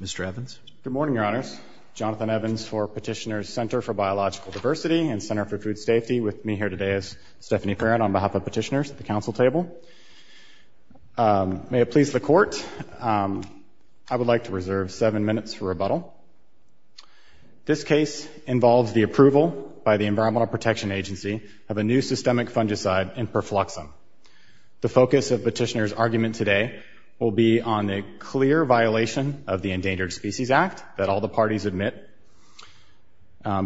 Mr. Evans. Good morning, Your Honors. Jonathan Evans for Petitioner's Center for Biological Diversity and Center for Food Safety with me here today is Stephanie Perrin on behalf of petitioners at the council table. May it please the court, I would like to reserve seven minutes for rebuttal. This case involves the approval by the Environmental Protection Agency of a new systemic fungicide, Imperfluxum. The focus of petitioner's argument today will be on a clear violation of the Endangered Species Act that all the parties admit.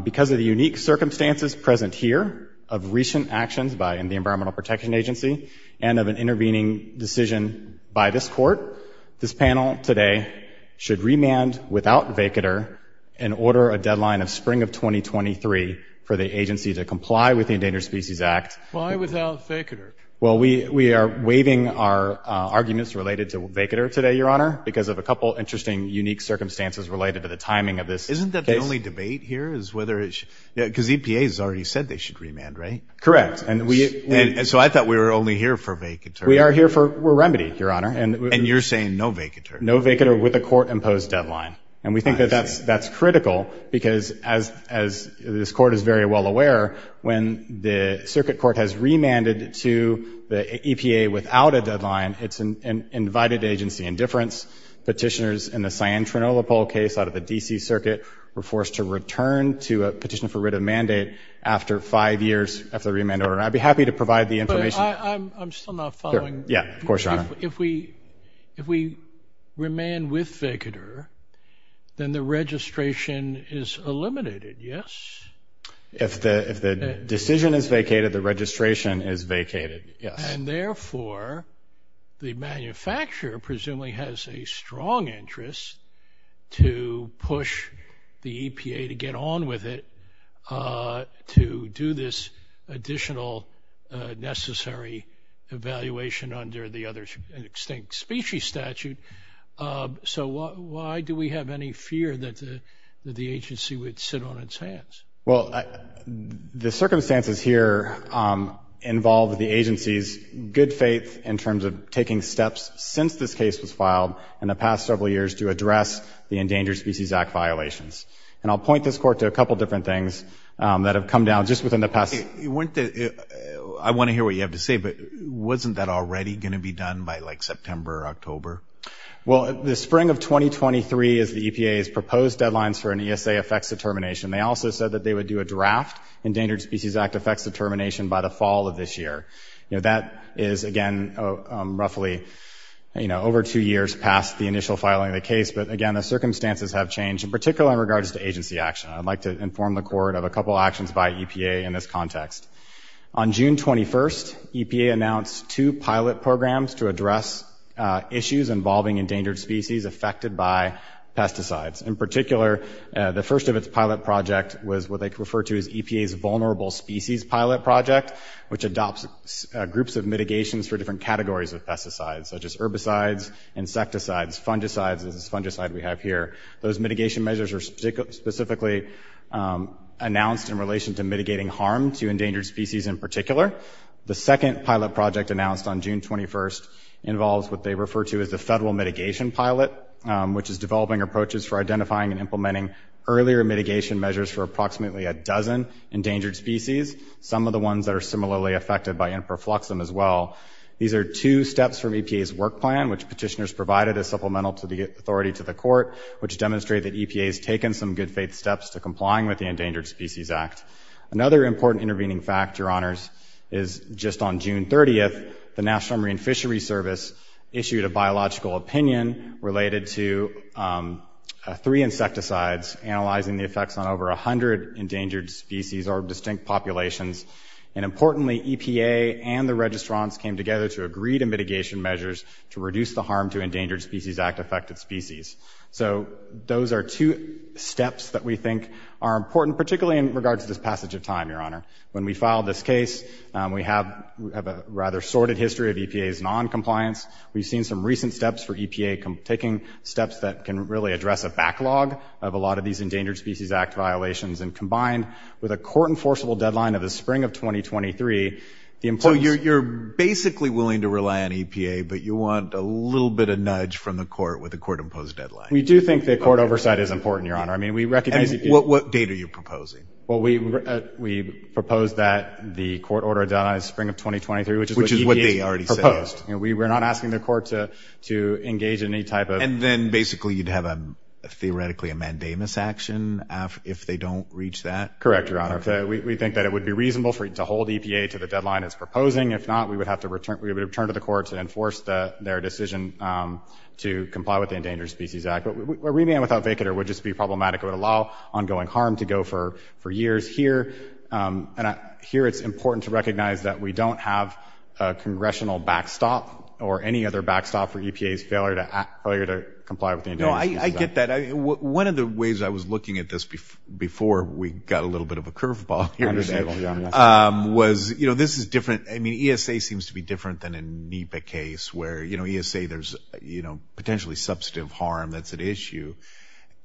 Because of the unique circumstances present here of recent actions by in the Environmental Protection Agency and of an intervening decision by this court, this panel today should remand without vacater and order a deadline of spring of 2023 for the agency to comply with the Endangered Species Act. Why without vacater? Well we we are waiving our arguments related to vacater today, Your Honor, because of a couple interesting unique circumstances related to the timing of this. Isn't that the only debate here is whether it's because EPA has already said they should remand, right? Correct. And we and so I thought we were only here for vacater. We are here for remedy, Your Honor. And you're saying no vacater? No vacater with a court-imposed deadline. And we think that that's that's critical because as as this court is very well aware when the circuit court has remanded to the EPA without a deadline, it's an invited agency indifference. Petitioners in the Cyan-Trinola poll case out of the DC Circuit were forced to return to a petition for writ of mandate after five years after the remand order. I'd be happy to provide the information. I'm still not following. Yeah, of course, Your Honor. If we if we remain with vacater, then the registration is eliminated, yes? If the if the decision is vacated, the manufacturer presumably has a strong interest to push the EPA to get on with it to do this additional necessary evaluation under the other extinct species statute. So why do we have any fear that the agency would sit on its Well, the circumstances here involve the agency's good faith in terms of taking steps since this case was filed in the past several years to address the Endangered Species Act violations. And I'll point this court to a couple different things that have come down just within the past... I want to hear what you have to say, but wasn't that already gonna be done by like September or October? Well, the spring of 2023 is the EPA's proposed deadlines for an ESA effects determination. They also said that they would do a draft Endangered Species Act effects determination by the fall of this year. You know, that is again roughly, you know, over two years past the initial filing of the case. But again, the circumstances have changed, in particular in regards to agency action. I'd like to inform the court of a couple actions by EPA in this context. On June 21st, EPA announced two pilot programs to address issues involving endangered species affected by pesticides. In particular, the first of its pilot project was what they refer to as EPA's Vulnerable Species Pilot Project, which adopts groups of mitigations for different categories of pesticides, such as herbicides, insecticides, fungicides, this fungicide we have here. Those mitigation measures are specifically announced in relation to mitigating harm to endangered species in particular. The second pilot project announced on June 21st involves what they refer to as the Federal Mitigation Pilot, which is developing approaches for identifying and implementing earlier mitigation measures for approximately a dozen endangered species, some of the ones that are similarly affected by infrafluxum as well. These are two steps from EPA's work plan, which petitioners provided as supplemental to the authority to the court, which demonstrate that EPA has taken some good faith steps to complying with the Endangered Species Act. Another important intervening fact, Your Honors, is just on June 30th, the National Marine Fishery Service issued a biological opinion related to three insecticides, analyzing the effects on over a hundred endangered species or distinct populations. And importantly, EPA and the registrants came together to agree to mitigation measures to reduce the harm to Endangered Species Act affected species. So those are two steps that we think are important, particularly in regards to passage of time, Your Honor. When we filed this case, we have a rather sorted history of EPA's non-compliance. We've seen some recent steps for EPA taking steps that can really address a backlog of a lot of these Endangered Species Act violations, and combined with a court-enforceable deadline of the spring of 2023, the importance... So you're basically willing to rely on EPA, but you want a little bit of nudge from the court with a court-imposed deadline. We do think that court oversight is important, Your Honor. I mean, we propose that the court order a deadline of the spring of 2023, which is what EPA proposed. We're not asking the court to engage in any type of... And then basically you'd have a theoretically a mandamus action if they don't reach that? Correct, Your Honor. We think that it would be reasonable for you to hold EPA to the deadline it's proposing. If not, we would have to return to the court to enforce their decision to comply with the Endangered Species Act. A remand without vacater would just be for years here, and here it's important to recognize that we don't have a congressional backstop or any other backstop for EPA's failure to comply with the Endangered Species Act. I get that. One of the ways I was looking at this before we got a little bit of a curveball here today was, you know, this is different. I mean, ESA seems to be different than a NEPA case where, you know, ESA, there's, you know, potentially substantive harm that's at issue.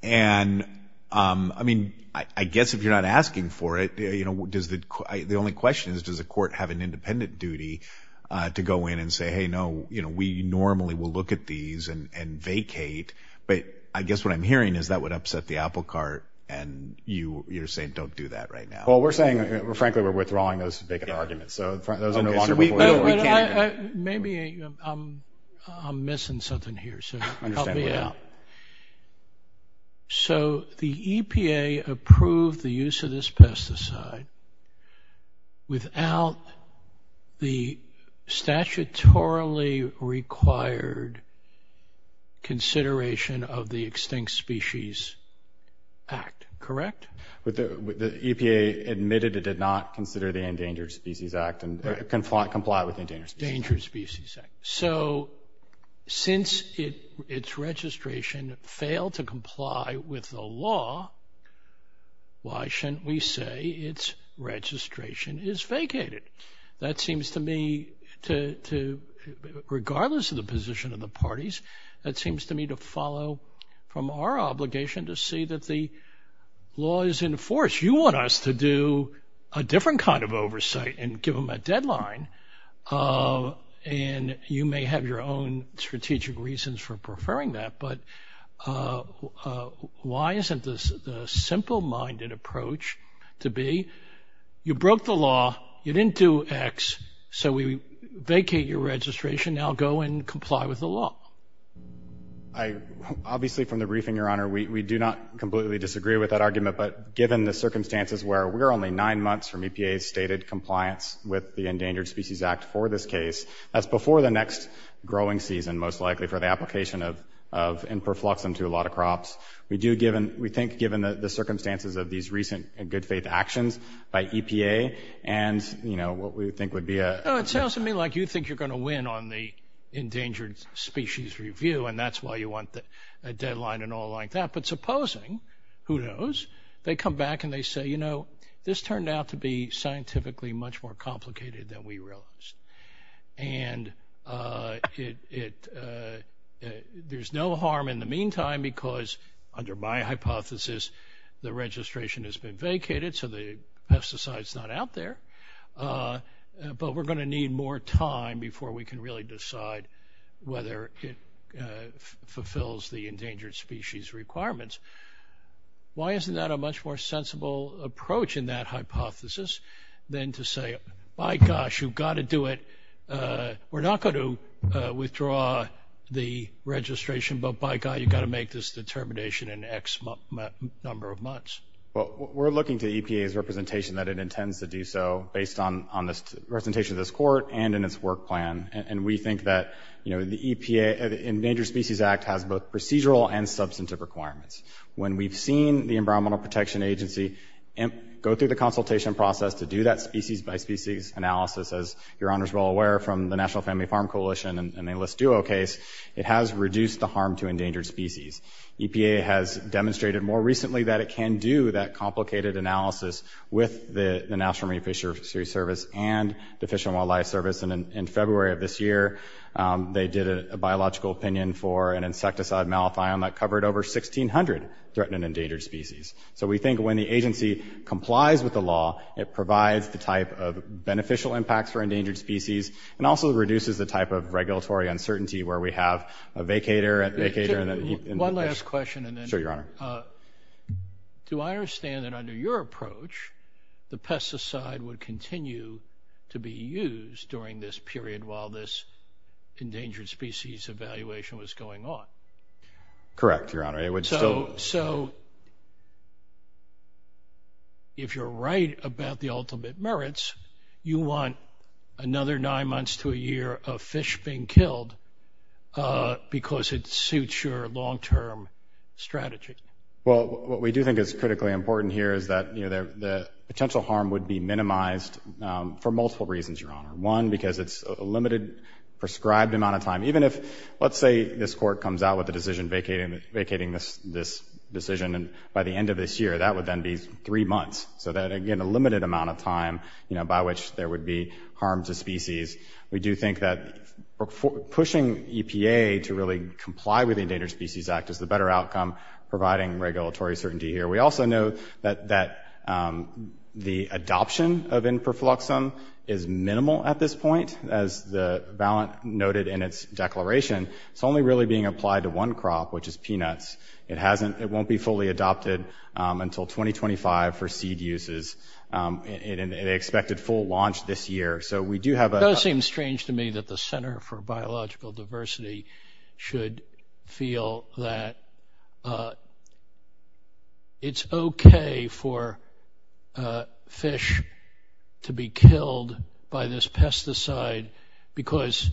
And, I mean, I guess if you're not asking for it, you know, does the... The only question is, does the court have an independent duty to go in and say, hey, no, you know, we normally will look at these and vacate, but I guess what I'm hearing is that would upset the apple cart, and you're saying don't do that right now? Well, we're saying, frankly, we're withdrawing those vacant arguments, so those are no longer before you. Maybe I'm missing something here, so help me out. So, the EPA approved the use of this pesticide without the statutorily required consideration of the Extinct Species Act, correct? The EPA admitted it did not consider the Extinct Species Act. So, since its registration failed to comply with the law, why shouldn't we say its registration is vacated? That seems to me to, regardless of the position of the parties, that seems to me to follow from our obligation to see that the law is in force. You want us to do a different kind of oversight and give them a deadline, and you may have your own strategic reasons for preferring that, but why isn't this the simple-minded approach to be, you broke the law, you didn't do X, so we vacate your registration, now go and comply with the law? Obviously, from the briefing, Your Honor, we do not completely disagree with that argument, but given the circumstances where we're only nine months with the Endangered Species Act for this case, that's before the next growing season, most likely, for the application of n-perflux into a lot of crops. We do, given, we think given the circumstances of these recent and good faith actions by EPA and, you know, what we think would be a... Oh, it sounds to me like you think you're going to win on the Endangered Species Review, and that's why you want the deadline and all like that, but supposing, who knows, they come back and they say, you know, this turned out to be scientifically much more complicated than we realized, and it, there's no harm in the meantime, because under my hypothesis, the registration has been vacated, so the pesticide's not out there, but we're going to need more time before we can really decide whether it fulfills the endangered species requirements. Why isn't that a much more sensible approach in that hypothesis than to say, my gosh, you've got to do it, we're not going to withdraw the registration, but by God, you've got to make this determination in X number of months. Well, we're looking to EPA's representation that it intends to do so based on on this presentation of this court and in its work plan, and we think that, you know, the EPA, the Endangered Species Act has both procedural and substantive requirements. When we've seen the Environmental Protection Agency go through the consultation process to do that species-by-species analysis, as your Honor's well aware from the National Family Farm Coalition and the Enlist Duo case, it has reduced the harm to endangered species. EPA has demonstrated more recently that it can do that complicated analysis with the National Marine Fisheries Service and the Fish and Wildlife Service, and in February of this year, they did a biological opinion for an insecticide malathion that covered over 1,600 threatened and endangered species. So we think when the agency complies with the law, it provides the type of beneficial impacts for endangered species and also reduces the type of regulatory uncertainty where we have a vacator at the vacator and... One last question, and then... Sure, your Honor. Do I understand that under your approach, the pesticide would continue to be used during this period while this endangered species evaluation was going on? Correct, your Honor. It would still... So if you're right about the ultimate merits, you want another nine months to a year of fish being killed because it suits your long-term strategy? Well, what we do think is critically important here is that, you know, the potential harm would be minimized for multiple reasons, your Honor. One, because it's a limited prescribed amount of time. Even if, let's say, this court comes out with a decision vacating this decision, and by the end of this year, that would then be three months. So that, again, a limited amount of time, you know, by which there would be harm to species. We do think that pushing EPA to really comply with the Endangered Species Act is the better outcome, providing regulatory certainty here. We also know that the adoption of in perfluxum is minimal at this point. As the valent noted in its declaration, it's only really being applied to one crop, which is peanuts. It won't be fully adopted until 2025 for seed uses. It's expected full launch this year. So we do have a... It does seem strange to me that the Center for Biological Diversity should feel that it's okay for fish to be killed by this pesticide because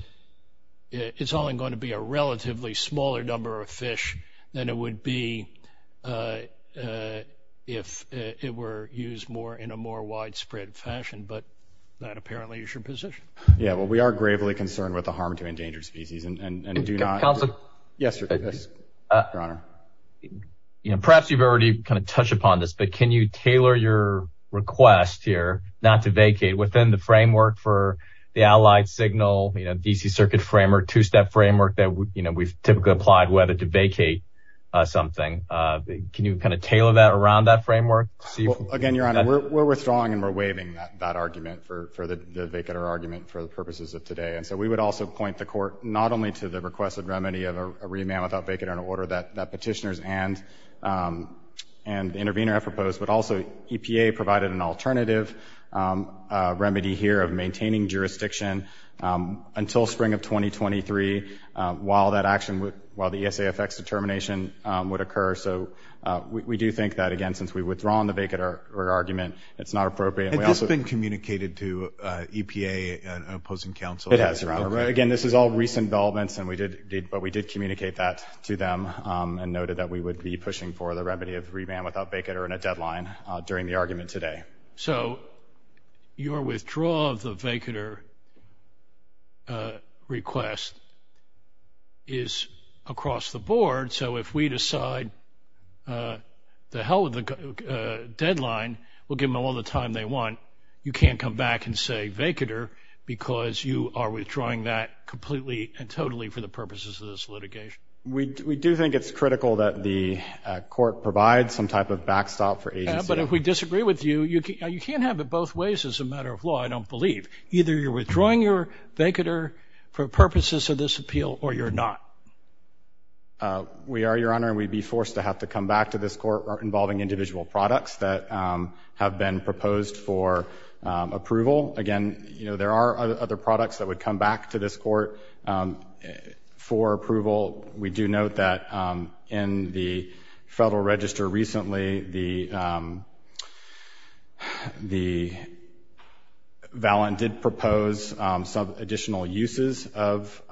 it's only going to be a relatively smaller number of fish than it would be if it were used more in a more widespread fashion. But that apparently is your position. Yeah, well, we are gravely concerned with the harm to endangered species and do not... Perhaps you've already kind of touched upon this, but can you tailor your request here not to vacate within the framework for the allied signal, you know, DC circuit framework, two-step framework that, you know, we've typically applied whether to vacate something. Can you kind of tailor that around that framework? Again, Your Honor, we're withdrawing and we're waiving that argument for the vacater argument for the purposes of today. And so we would also point the court not only to the requested remedy of a remand without vacater in order that petitioners and intervener have proposed, but also EPA provided an alternative remedy here of maintaining jurisdiction until spring of 2023 while that action would... while the ESA effects determination would occur. So we do think that, again, since we've withdrawn the vacater argument, it's not appropriate. Has this been communicated to EPA and opposing counsel? It has, Your Honor. Again, this is all recent developments and we did... but we did communicate that to them and noted that we would be pushing for the remedy of remand without vacater in a deadline during the argument today. So your withdrawal of the vacater request is across the board. So if we decide the hell with the deadline, we'll give them all the time they want. You can't come back and say vacater because you are withdrawing that completely and for the purposes of this litigation. We do think it's critical that the court provide some type of backstop for agency. But if we disagree with you, you can't have it both ways as a matter of law, I don't believe. Either you're withdrawing your vacater for purposes of this appeal or you're not. We are, Your Honor, and we'd be forced to have to come back to this court involving individual products that have been proposed for approval. Again, you know, there are other products that would come back to this court for approval. We do note that in the Federal Register recently, the valent did propose some additional uses of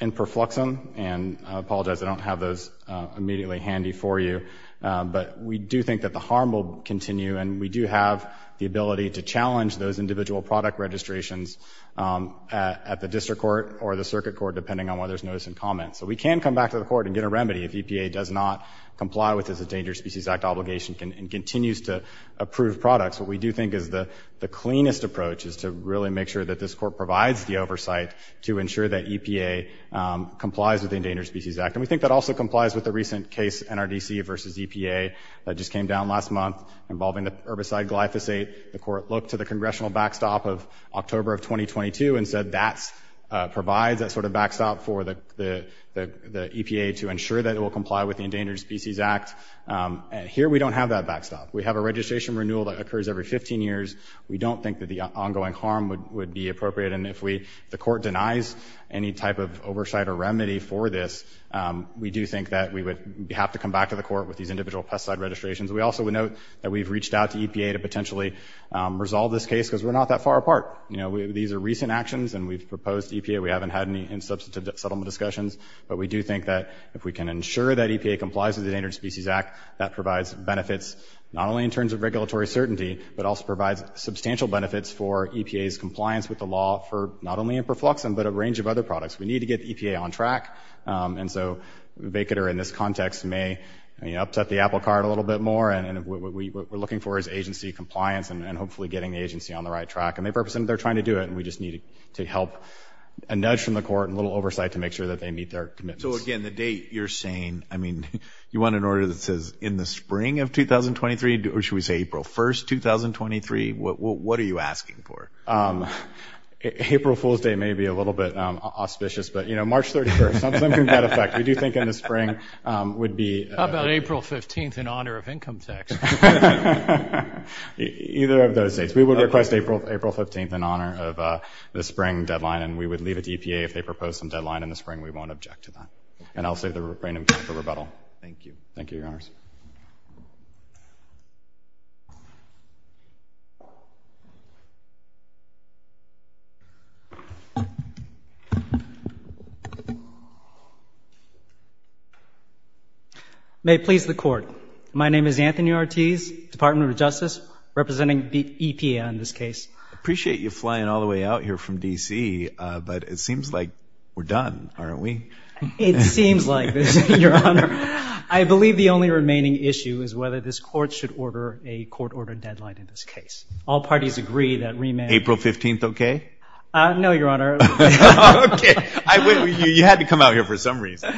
in perfluxum, and I apologize I don't have those immediately handy for you, but we do think that the harm will continue and we do have the ability to challenge those individual product registrations at the District Court or the Circuit Court depending on whether there's notice and comments. So we can come back to the court and get a remedy if EPA does not comply with this Endangered Species Act obligation and continues to approve products. What we do think is the cleanest approach is to really make sure that this court provides the oversight to ensure that EPA complies with the Endangered Species Act. And we think that also complies with the recent case NRDC versus EPA that just came down last month involving the herbicide glyphosate. The court looked to the congressional backstop of October of 2022 and said that provides that sort of backstop for the EPA to ensure that it will comply with the Endangered Species Act. Here we don't have that backstop. We have a registration renewal that occurs every 15 years. We don't think that the ongoing harm would be appropriate, and if the court denies any type of oversight or remedy for this, we do think that we would have to come back to the court with these individual pesticide registrations. We also would note that we've reached out to EPA to potentially resolve this case because we're not that far apart. You know, these are recent actions and we've proposed to EPA. We haven't had any in-substantive settlement discussions, but we do think that if we can ensure that EPA complies with the Endangered Species Act, that provides benefits not only in terms of regulatory certainty, but also provides substantial benefits for EPA's compliance with the law for not only for perfluxin, but a range of other products. We need to get EPA on track, and so the vacater in this context may, you know, upset the apple cart a little bit more, and what we're looking for is agency compliance and hopefully getting the agency on the right track, and they represent they're trying to do it, and we just need to help a nudge from the court and a little oversight to make sure that they meet their commitments. So again, the date you're saying, I mean, you want an order that says in the spring of 2023, or should we say April 1st, 2023, what are you asking for? April Fool's Day may be a little bit auspicious, but you know, March 31st, we do think in the spring would be... How about April 15th in honor of income tax? Either of those dates. We would request April 15th in honor of the spring deadline, and we would leave it to EPA if they propose some deadline in the spring, we won't object to that, and I'll save the rebranding for rebuttal. Thank you. Thank you, Your Honors. May it please the court. My name is Anthony Ortiz, Department of Justice, representing the EPA in this case. I appreciate you flying all the way out here from DC, but it seems like we're done, aren't we? It seems like this, Your Honor. I believe the only remaining issue is whether this court should order a court-ordered deadline in this case. All parties agree that remand... April 15th, okay? No, Your Honor. Okay. You had to come out here for some reason.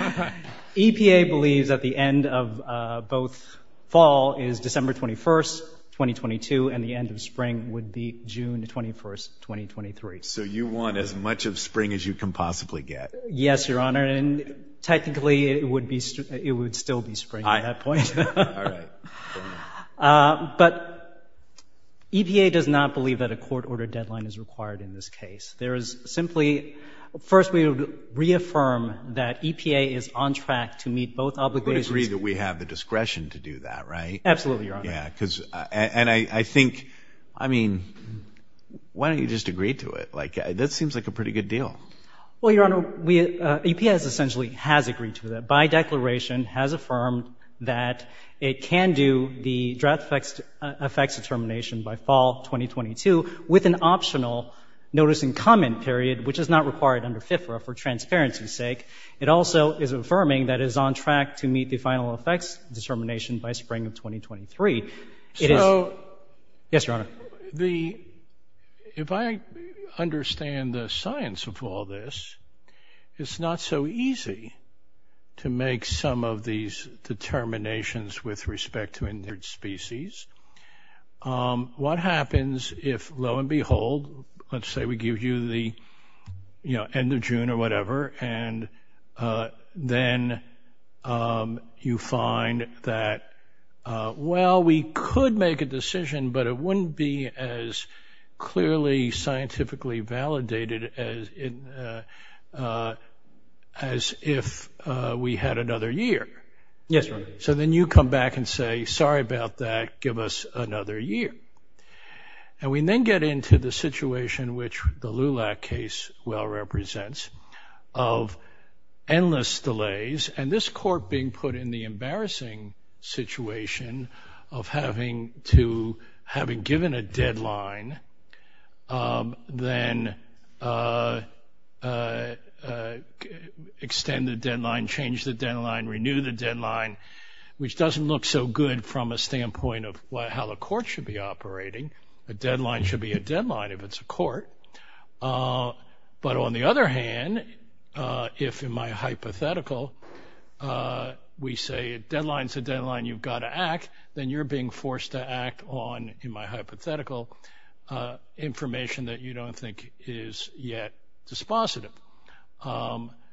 EPA believes that the end of both fall is December 21st, 2022, and the end of spring would be June 21st, 2023. So you want as much of spring as you can possibly get. Yes, Your Honor, and technically it would still be spring at that point. But EPA does not believe that a court-ordered deadline is necessary in this case. There is simply... First, we would reaffirm that EPA is on track to meet both obligations. We would agree that we have the discretion to do that, right? Absolutely, Your Honor. Yeah, because... and I think... I mean, why don't you just agree to it? Like, that seems like a pretty good deal. Well, Your Honor, EPA essentially has agreed to that, by declaration, has affirmed that it can do the draft effects determination by fall 2022 with an optional notice and comment period, which is not required under FIFRA for transparency's sake. It also is affirming that it is on track to meet the final effects determination by spring of 2023. So... Yes, Your Honor. The... if I understand the science of all this, it's not so easy to make some of these determinations with respect to endangered species. What happens if, lo and behold, let's say we give you the, you know, end of June or whatever, and then you find that, well, we could make a decision, but it wouldn't be as clearly scientifically validated as if we had another year. Yes, Your Honor. So, then you come back and say, sorry about that, give us another year. And we then get into the situation, which the LULAC case well represents, of endless delays, and this deadline, then extend the deadline, change the deadline, renew the deadline, which doesn't look so good from a standpoint of how the court should be operating. A deadline should be a deadline if it's a court. But on the other hand, if in my hypothetical, we say a deadline's a deadline, you've got to act, then you're being forced to act on, in my hypothetical, information that you don't think is yet dispositive.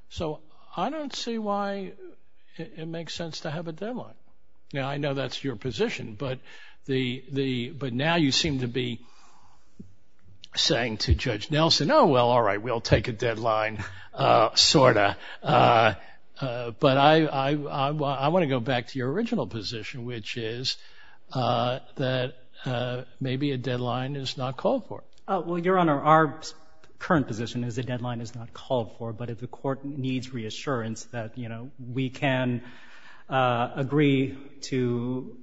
So, I don't see why it makes sense to have a deadline. Now, I know that's your position, but now you seem to be saying to Judge Nelson, oh, well, all right, we'll take a deadline, sort of. But I want to go back to your original position, which is that maybe a deadline is not called for. Well, Your Honor, our current position is a deadline is not called for, but if the court needs reassurance that, you know, we can agree to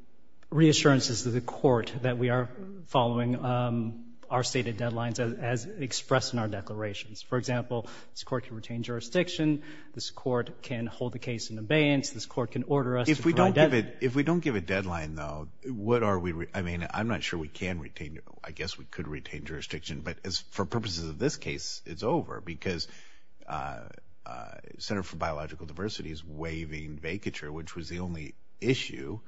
reassurances to the court that we are following our stated deadlines as expressed in our declarations. For example, this court can retain jurisdiction, this court can hold the case in abeyance, this court can order us. If we don't give it, if we don't give a deadline, though, what are we, I mean, I'm not sure we can retain, I guess we could retain jurisdiction, but as for purposes of this case, it's over because Center for Biological Diversity is waiving vacature, which was the only issue.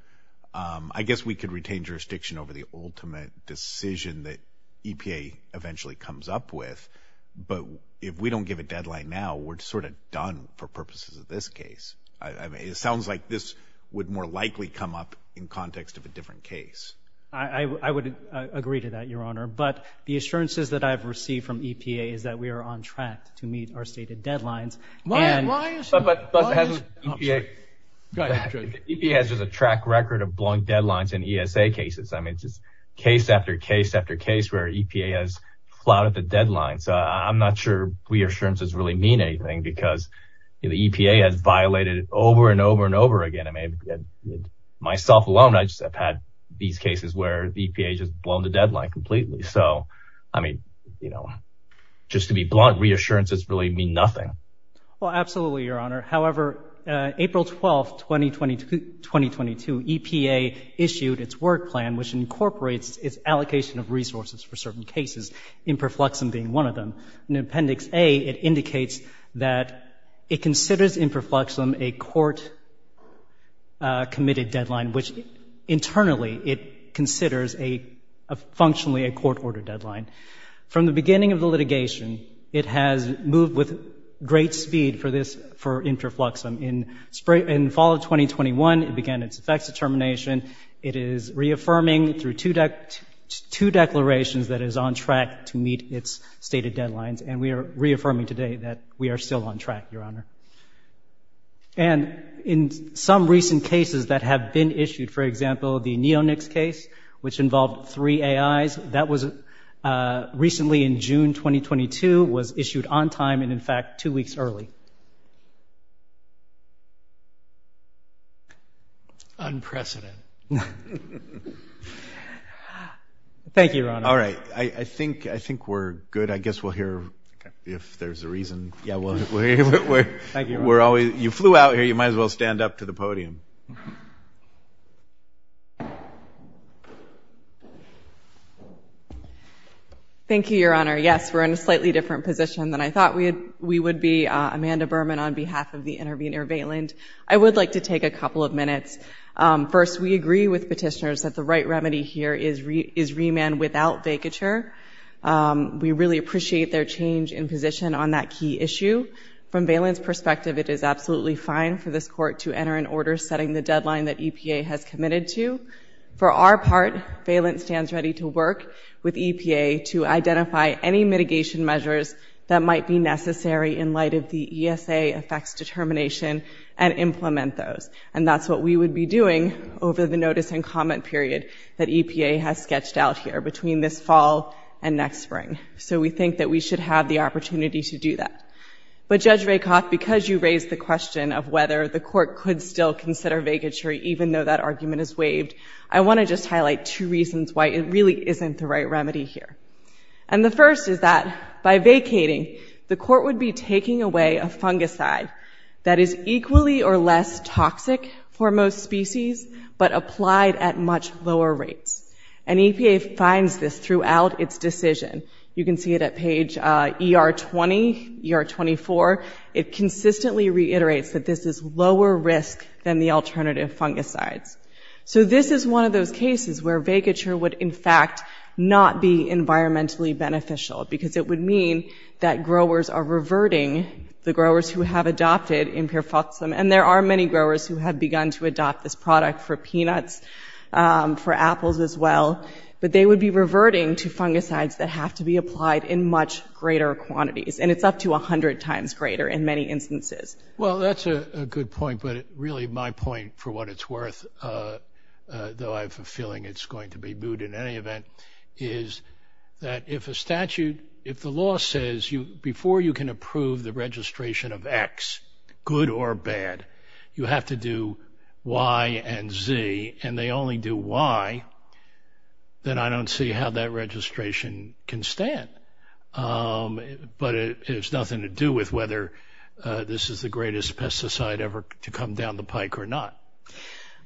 I guess we could retain jurisdiction over the ultimate decision that EPA eventually comes up with, but if we don't give a deadline now, we're sort of done for purposes of this case. I mean, it sounds like this would more likely come up in context of a different case. I would agree to that, Your Honor, but the assurances that I've received from EPA is that we are on track to meet our stated deadlines. EPA has just a track record of blowing deadlines in ESA cases. I mean, it's just case after case after case where EPA has flouted the deadline because, you know, the EPA has violated it over and over and over again. I mean, myself alone, I just have had these cases where the EPA just blown the deadline completely. So, I mean, you know, just to be blunt, reassurances really mean nothing. Well, absolutely, Your Honor. However, April 12, 2022, EPA issued its work plan, which incorporates its allocation of resources for certain cases, Imperfluxum being one of them. In Appendix A, it indicates that it considers Imperfluxum a court-committed deadline, which internally it considers functionally a court-ordered deadline. From the beginning of the litigation, it has moved with great speed for this, for Imperfluxum. In fall of 2021, it began its effects determination. It is reaffirming through two declarations that it is on track to meet its stated deadlines, and we are reaffirming today that we are still on track, Your Honor. And in some recent cases that have been issued, for example, the Neonics case, which involved three AIs, that was recently in June 2022, was issued on time and, in fact, two weeks early. Unprecedented. Thank you, Your Honor. All right, I think we're good. I guess we'll hear if there's a reason. Yeah, we're always, you flew out here, you might as well stand up to the podium. Thank you, Your Honor. Yes, we're in a slightly different position than I was with Amanda Berman on behalf of the intervenor, Valand. I would like to take a couple of minutes. First, we agree with petitioners that the right remedy here is remand without vacature. We really appreciate their change in position on that key issue. From Valand's perspective, it is absolutely fine for this court to enter an order setting the deadline that EPA has committed to. For our part, Valand stands ready to work with EPA to identify any mitigation measures that the ESA affects determination and implement those. And that's what we would be doing over the notice and comment period that EPA has sketched out here between this fall and next spring. So we think that we should have the opportunity to do that. But, Judge Rakoff, because you raised the question of whether the court could still consider vacature even though that argument is waived, I want to just highlight two reasons why it really isn't the right a fungicide that is equally or less toxic for most species but applied at much lower rates. And EPA finds this throughout its decision. You can see it at page ER 20, ER 24. It consistently reiterates that this is lower risk than the alternative fungicides. So this is one of those cases where vacature would in fact not be environmentally beneficial because it would mean that the growers who have adopted Imperfoxam, and there are many growers who have begun to adopt this product for peanuts, for apples as well, but they would be reverting to fungicides that have to be applied in much greater quantities. And it's up to a hundred times greater in many instances. Well, that's a good point, but really my point for what it's worth, though I have a feeling it's going to be booed in any event, is that if a statute, if the law says you before you can approve the registration of X, good or bad, you have to do Y and Z, and they only do Y, then I don't see how that registration can stand. But it has nothing to do with whether this is the greatest pesticide ever to come down the pike or not.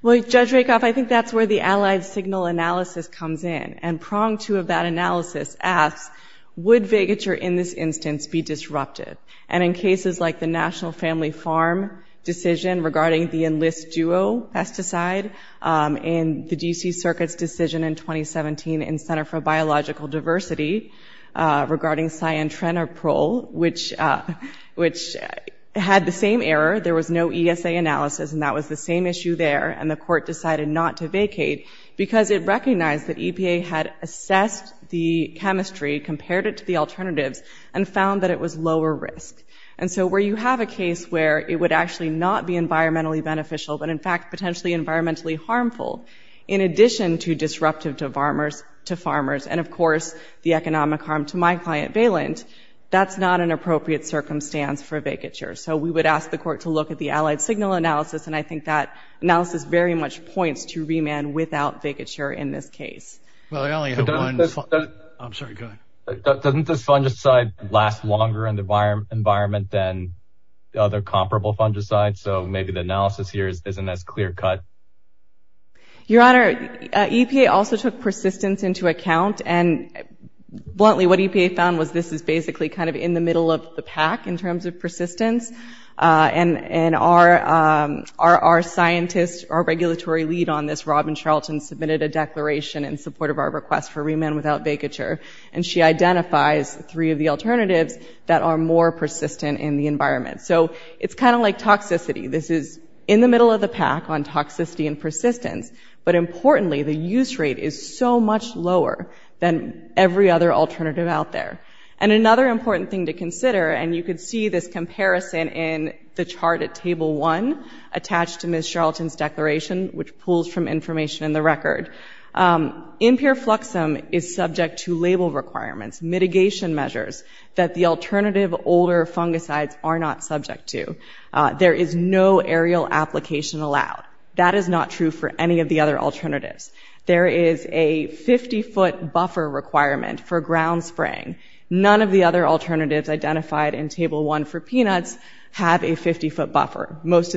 Well, Judge Rakoff, I think that's where the Allied Signal Analysis comes in. And prong two of that analysis asks, would vacature in this instance be disruptive? And in cases like the National Family Farm decision regarding the Enlist Duo pesticide, in the DC Circuit's decision in 2017 in Center for Biological Diversity regarding Cyantrenopril, which had the same error, there was no ESA analysis, and that was the same issue there, and the court decided not to vacate because it recognized that EPA had assessed the alternatives and found that it was lower risk. And so where you have a case where it would actually not be environmentally beneficial, but in fact potentially environmentally harmful, in addition to disruptive to farmers, and of course the economic harm to my client, Valent, that's not an appropriate circumstance for a vacature. So we would ask the court to look at the Allied Signal Analysis, and I think that analysis very much points to remand without vacature in this case. Doesn't this fungicide last longer in the environment than the other comparable fungicide? So maybe the analysis here isn't as clear-cut? Your Honor, EPA also took persistence into account, and bluntly what EPA found was this is basically kind of in the middle of the pack in terms of Charlton submitted a declaration in support of our request for remand without vacature, and she identifies three of the alternatives that are more persistent in the environment. So it's kind of like toxicity, this is in the middle of the pack on toxicity and persistence, but importantly the use rate is so much lower than every other alternative out there. And another important thing to consider, and you could see this comparison in the chart at Table 1 attached to Ms. Charlton's declaration, which pulls from information in the record, impure fluxum is subject to label requirements, mitigation measures that the alternative older fungicides are not subject to. There is no aerial application allowed. That is not true for any of the other alternatives. There is a 50-foot buffer requirement for ground spraying. None of the other alternatives identified in Table 1 for peanuts have a 50-foot buffer. Nobody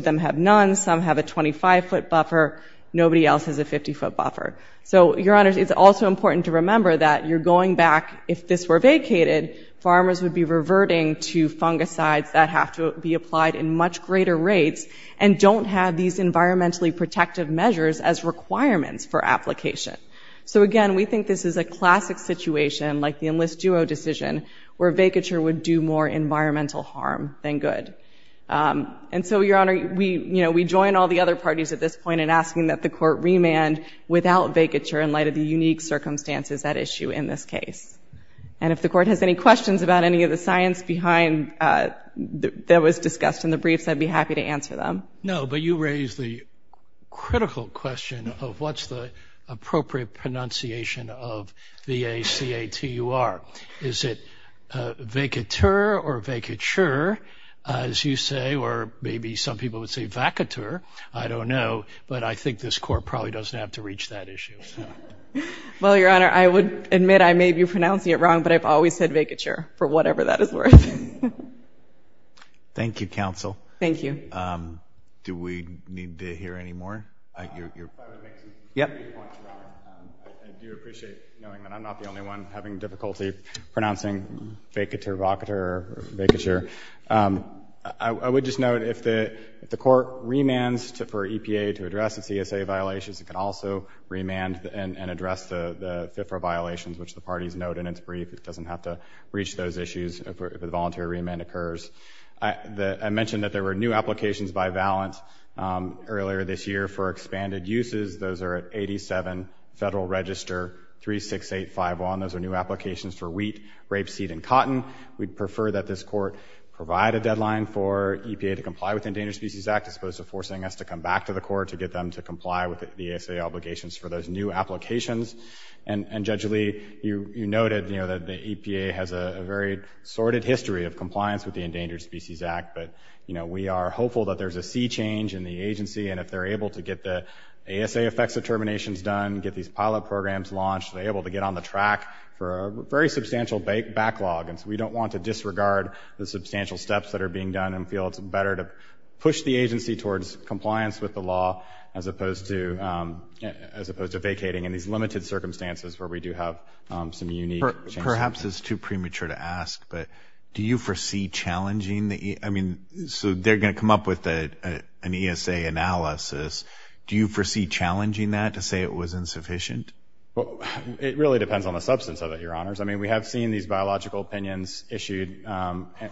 else has a 50-foot buffer. So, Your Honor, it's also important to remember that you're going back, if this were vacated, farmers would be reverting to fungicides that have to be applied in much greater rates and don't have these environmentally protective measures as requirements for application. So again, we think this is a classic situation, like the Enlist Duo decision, where vacature would do more environmental harm than good. And so, Your Honor, we, you know, we join all the other parties at this point in asking that the Court remand without vacature in light of the unique circumstances at issue in this case. And if the Court has any questions about any of the science behind that was discussed in the briefs, I'd be happy to answer them. No, but you raise the critical question of what's the appropriate pronunciation of V-A-C-A-T-U-R. Is it vacateur or vacature, as you say, or maybe some people would say vacateur, I don't know, but I think this Court probably doesn't have to reach that issue. Well, Your Honor, I would admit I may be pronouncing it wrong, but I've always said vacature, for whatever that is worth. Thank you, counsel. Thank you. Do we need to hear any more? I do appreciate knowing that I'm not the only one having difficulty pronouncing vacature, vacateur, vacature. I would just note, if the Court remands for EPA to address the CSA violations, it can also remand and address the FFRA violations, which the parties note in its brief. It doesn't have to reach those issues if a voluntary remand occurs. I mentioned that there were new applications by Valant earlier this year for expanded uses. Those are at 87 Federal Register 36851. Those are new applications for wheat, rapeseed, and cotton. We'd prefer that this Court provide a deadline for the Endangered Species Act as opposed to forcing us to come back to the Court to get them to comply with the ASA obligations for those new applications. And Judge Lee, you noted, you know, that the EPA has a very sordid history of compliance with the Endangered Species Act, but, you know, we are hopeful that there's a sea change in the agency, and if they're able to get the ASA effects determinations done, get these pilot programs launched, they're able to get on the track for a very substantial backlog. And so we don't want to disregard the push the agency towards compliance with the law, as opposed to, as opposed to vacating in these limited circumstances where we do have some unique... Perhaps it's too premature to ask, but do you foresee challenging the, I mean, so they're going to come up with an ESA analysis. Do you foresee challenging that to say it was insufficient? Well, it really depends on the substance of it, Your Honors. I mean, we have seen these biological opinions issued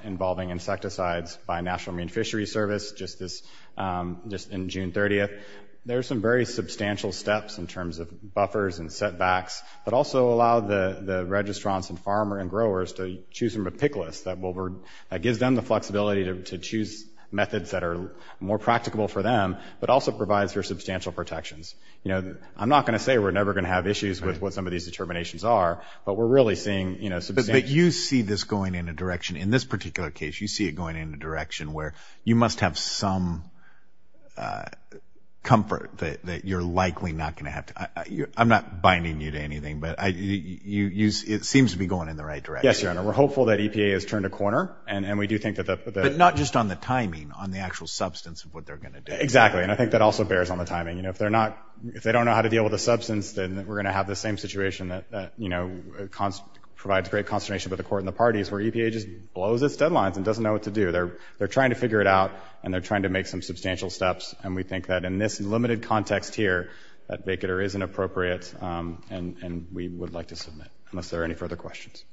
involving insecticides by National Marine Fishery Service just this, just in June 30th. There are some very substantial steps in terms of buffers and setbacks, but also allow the registrants and farmer and growers to choose from a pick list that will, that gives them the flexibility to choose methods that are more practicable for them, but also provides for substantial protections. You know, I'm not going to say we're never going to have issues with what some of these determinations are, but we're really seeing, you know... But you see this going in a direction, in this particular case, you see it going in a direction where you must have some comfort that you're likely not going to have to... I'm not binding you to anything, but it seems to be going in the right direction. Yes, Your Honor. We're hopeful that EPA has turned a corner and we do think that... But not just on the timing, on the actual substance of what they're going to do. Exactly. And I think that also bears on the timing. You know, if they're not, if they don't know how to deal with the substance, then we're going to have the same situation that, you know, provides great consternation with the court and the parties, where EPA just blows its deadlines and doesn't know what to do. They're trying to figure it out and they're trying to make some substantial steps. And we think that in this limited context here, that Bakatter is inappropriate. And we would like to submit, unless there are any further questions.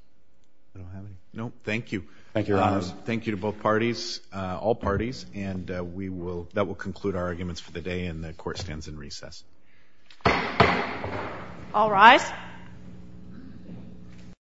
No, thank you. Thank you, Your Honor. Thank you to both parties, all parties, and we will, that will conclude our arguments for the day and the court stands in recess. All rise.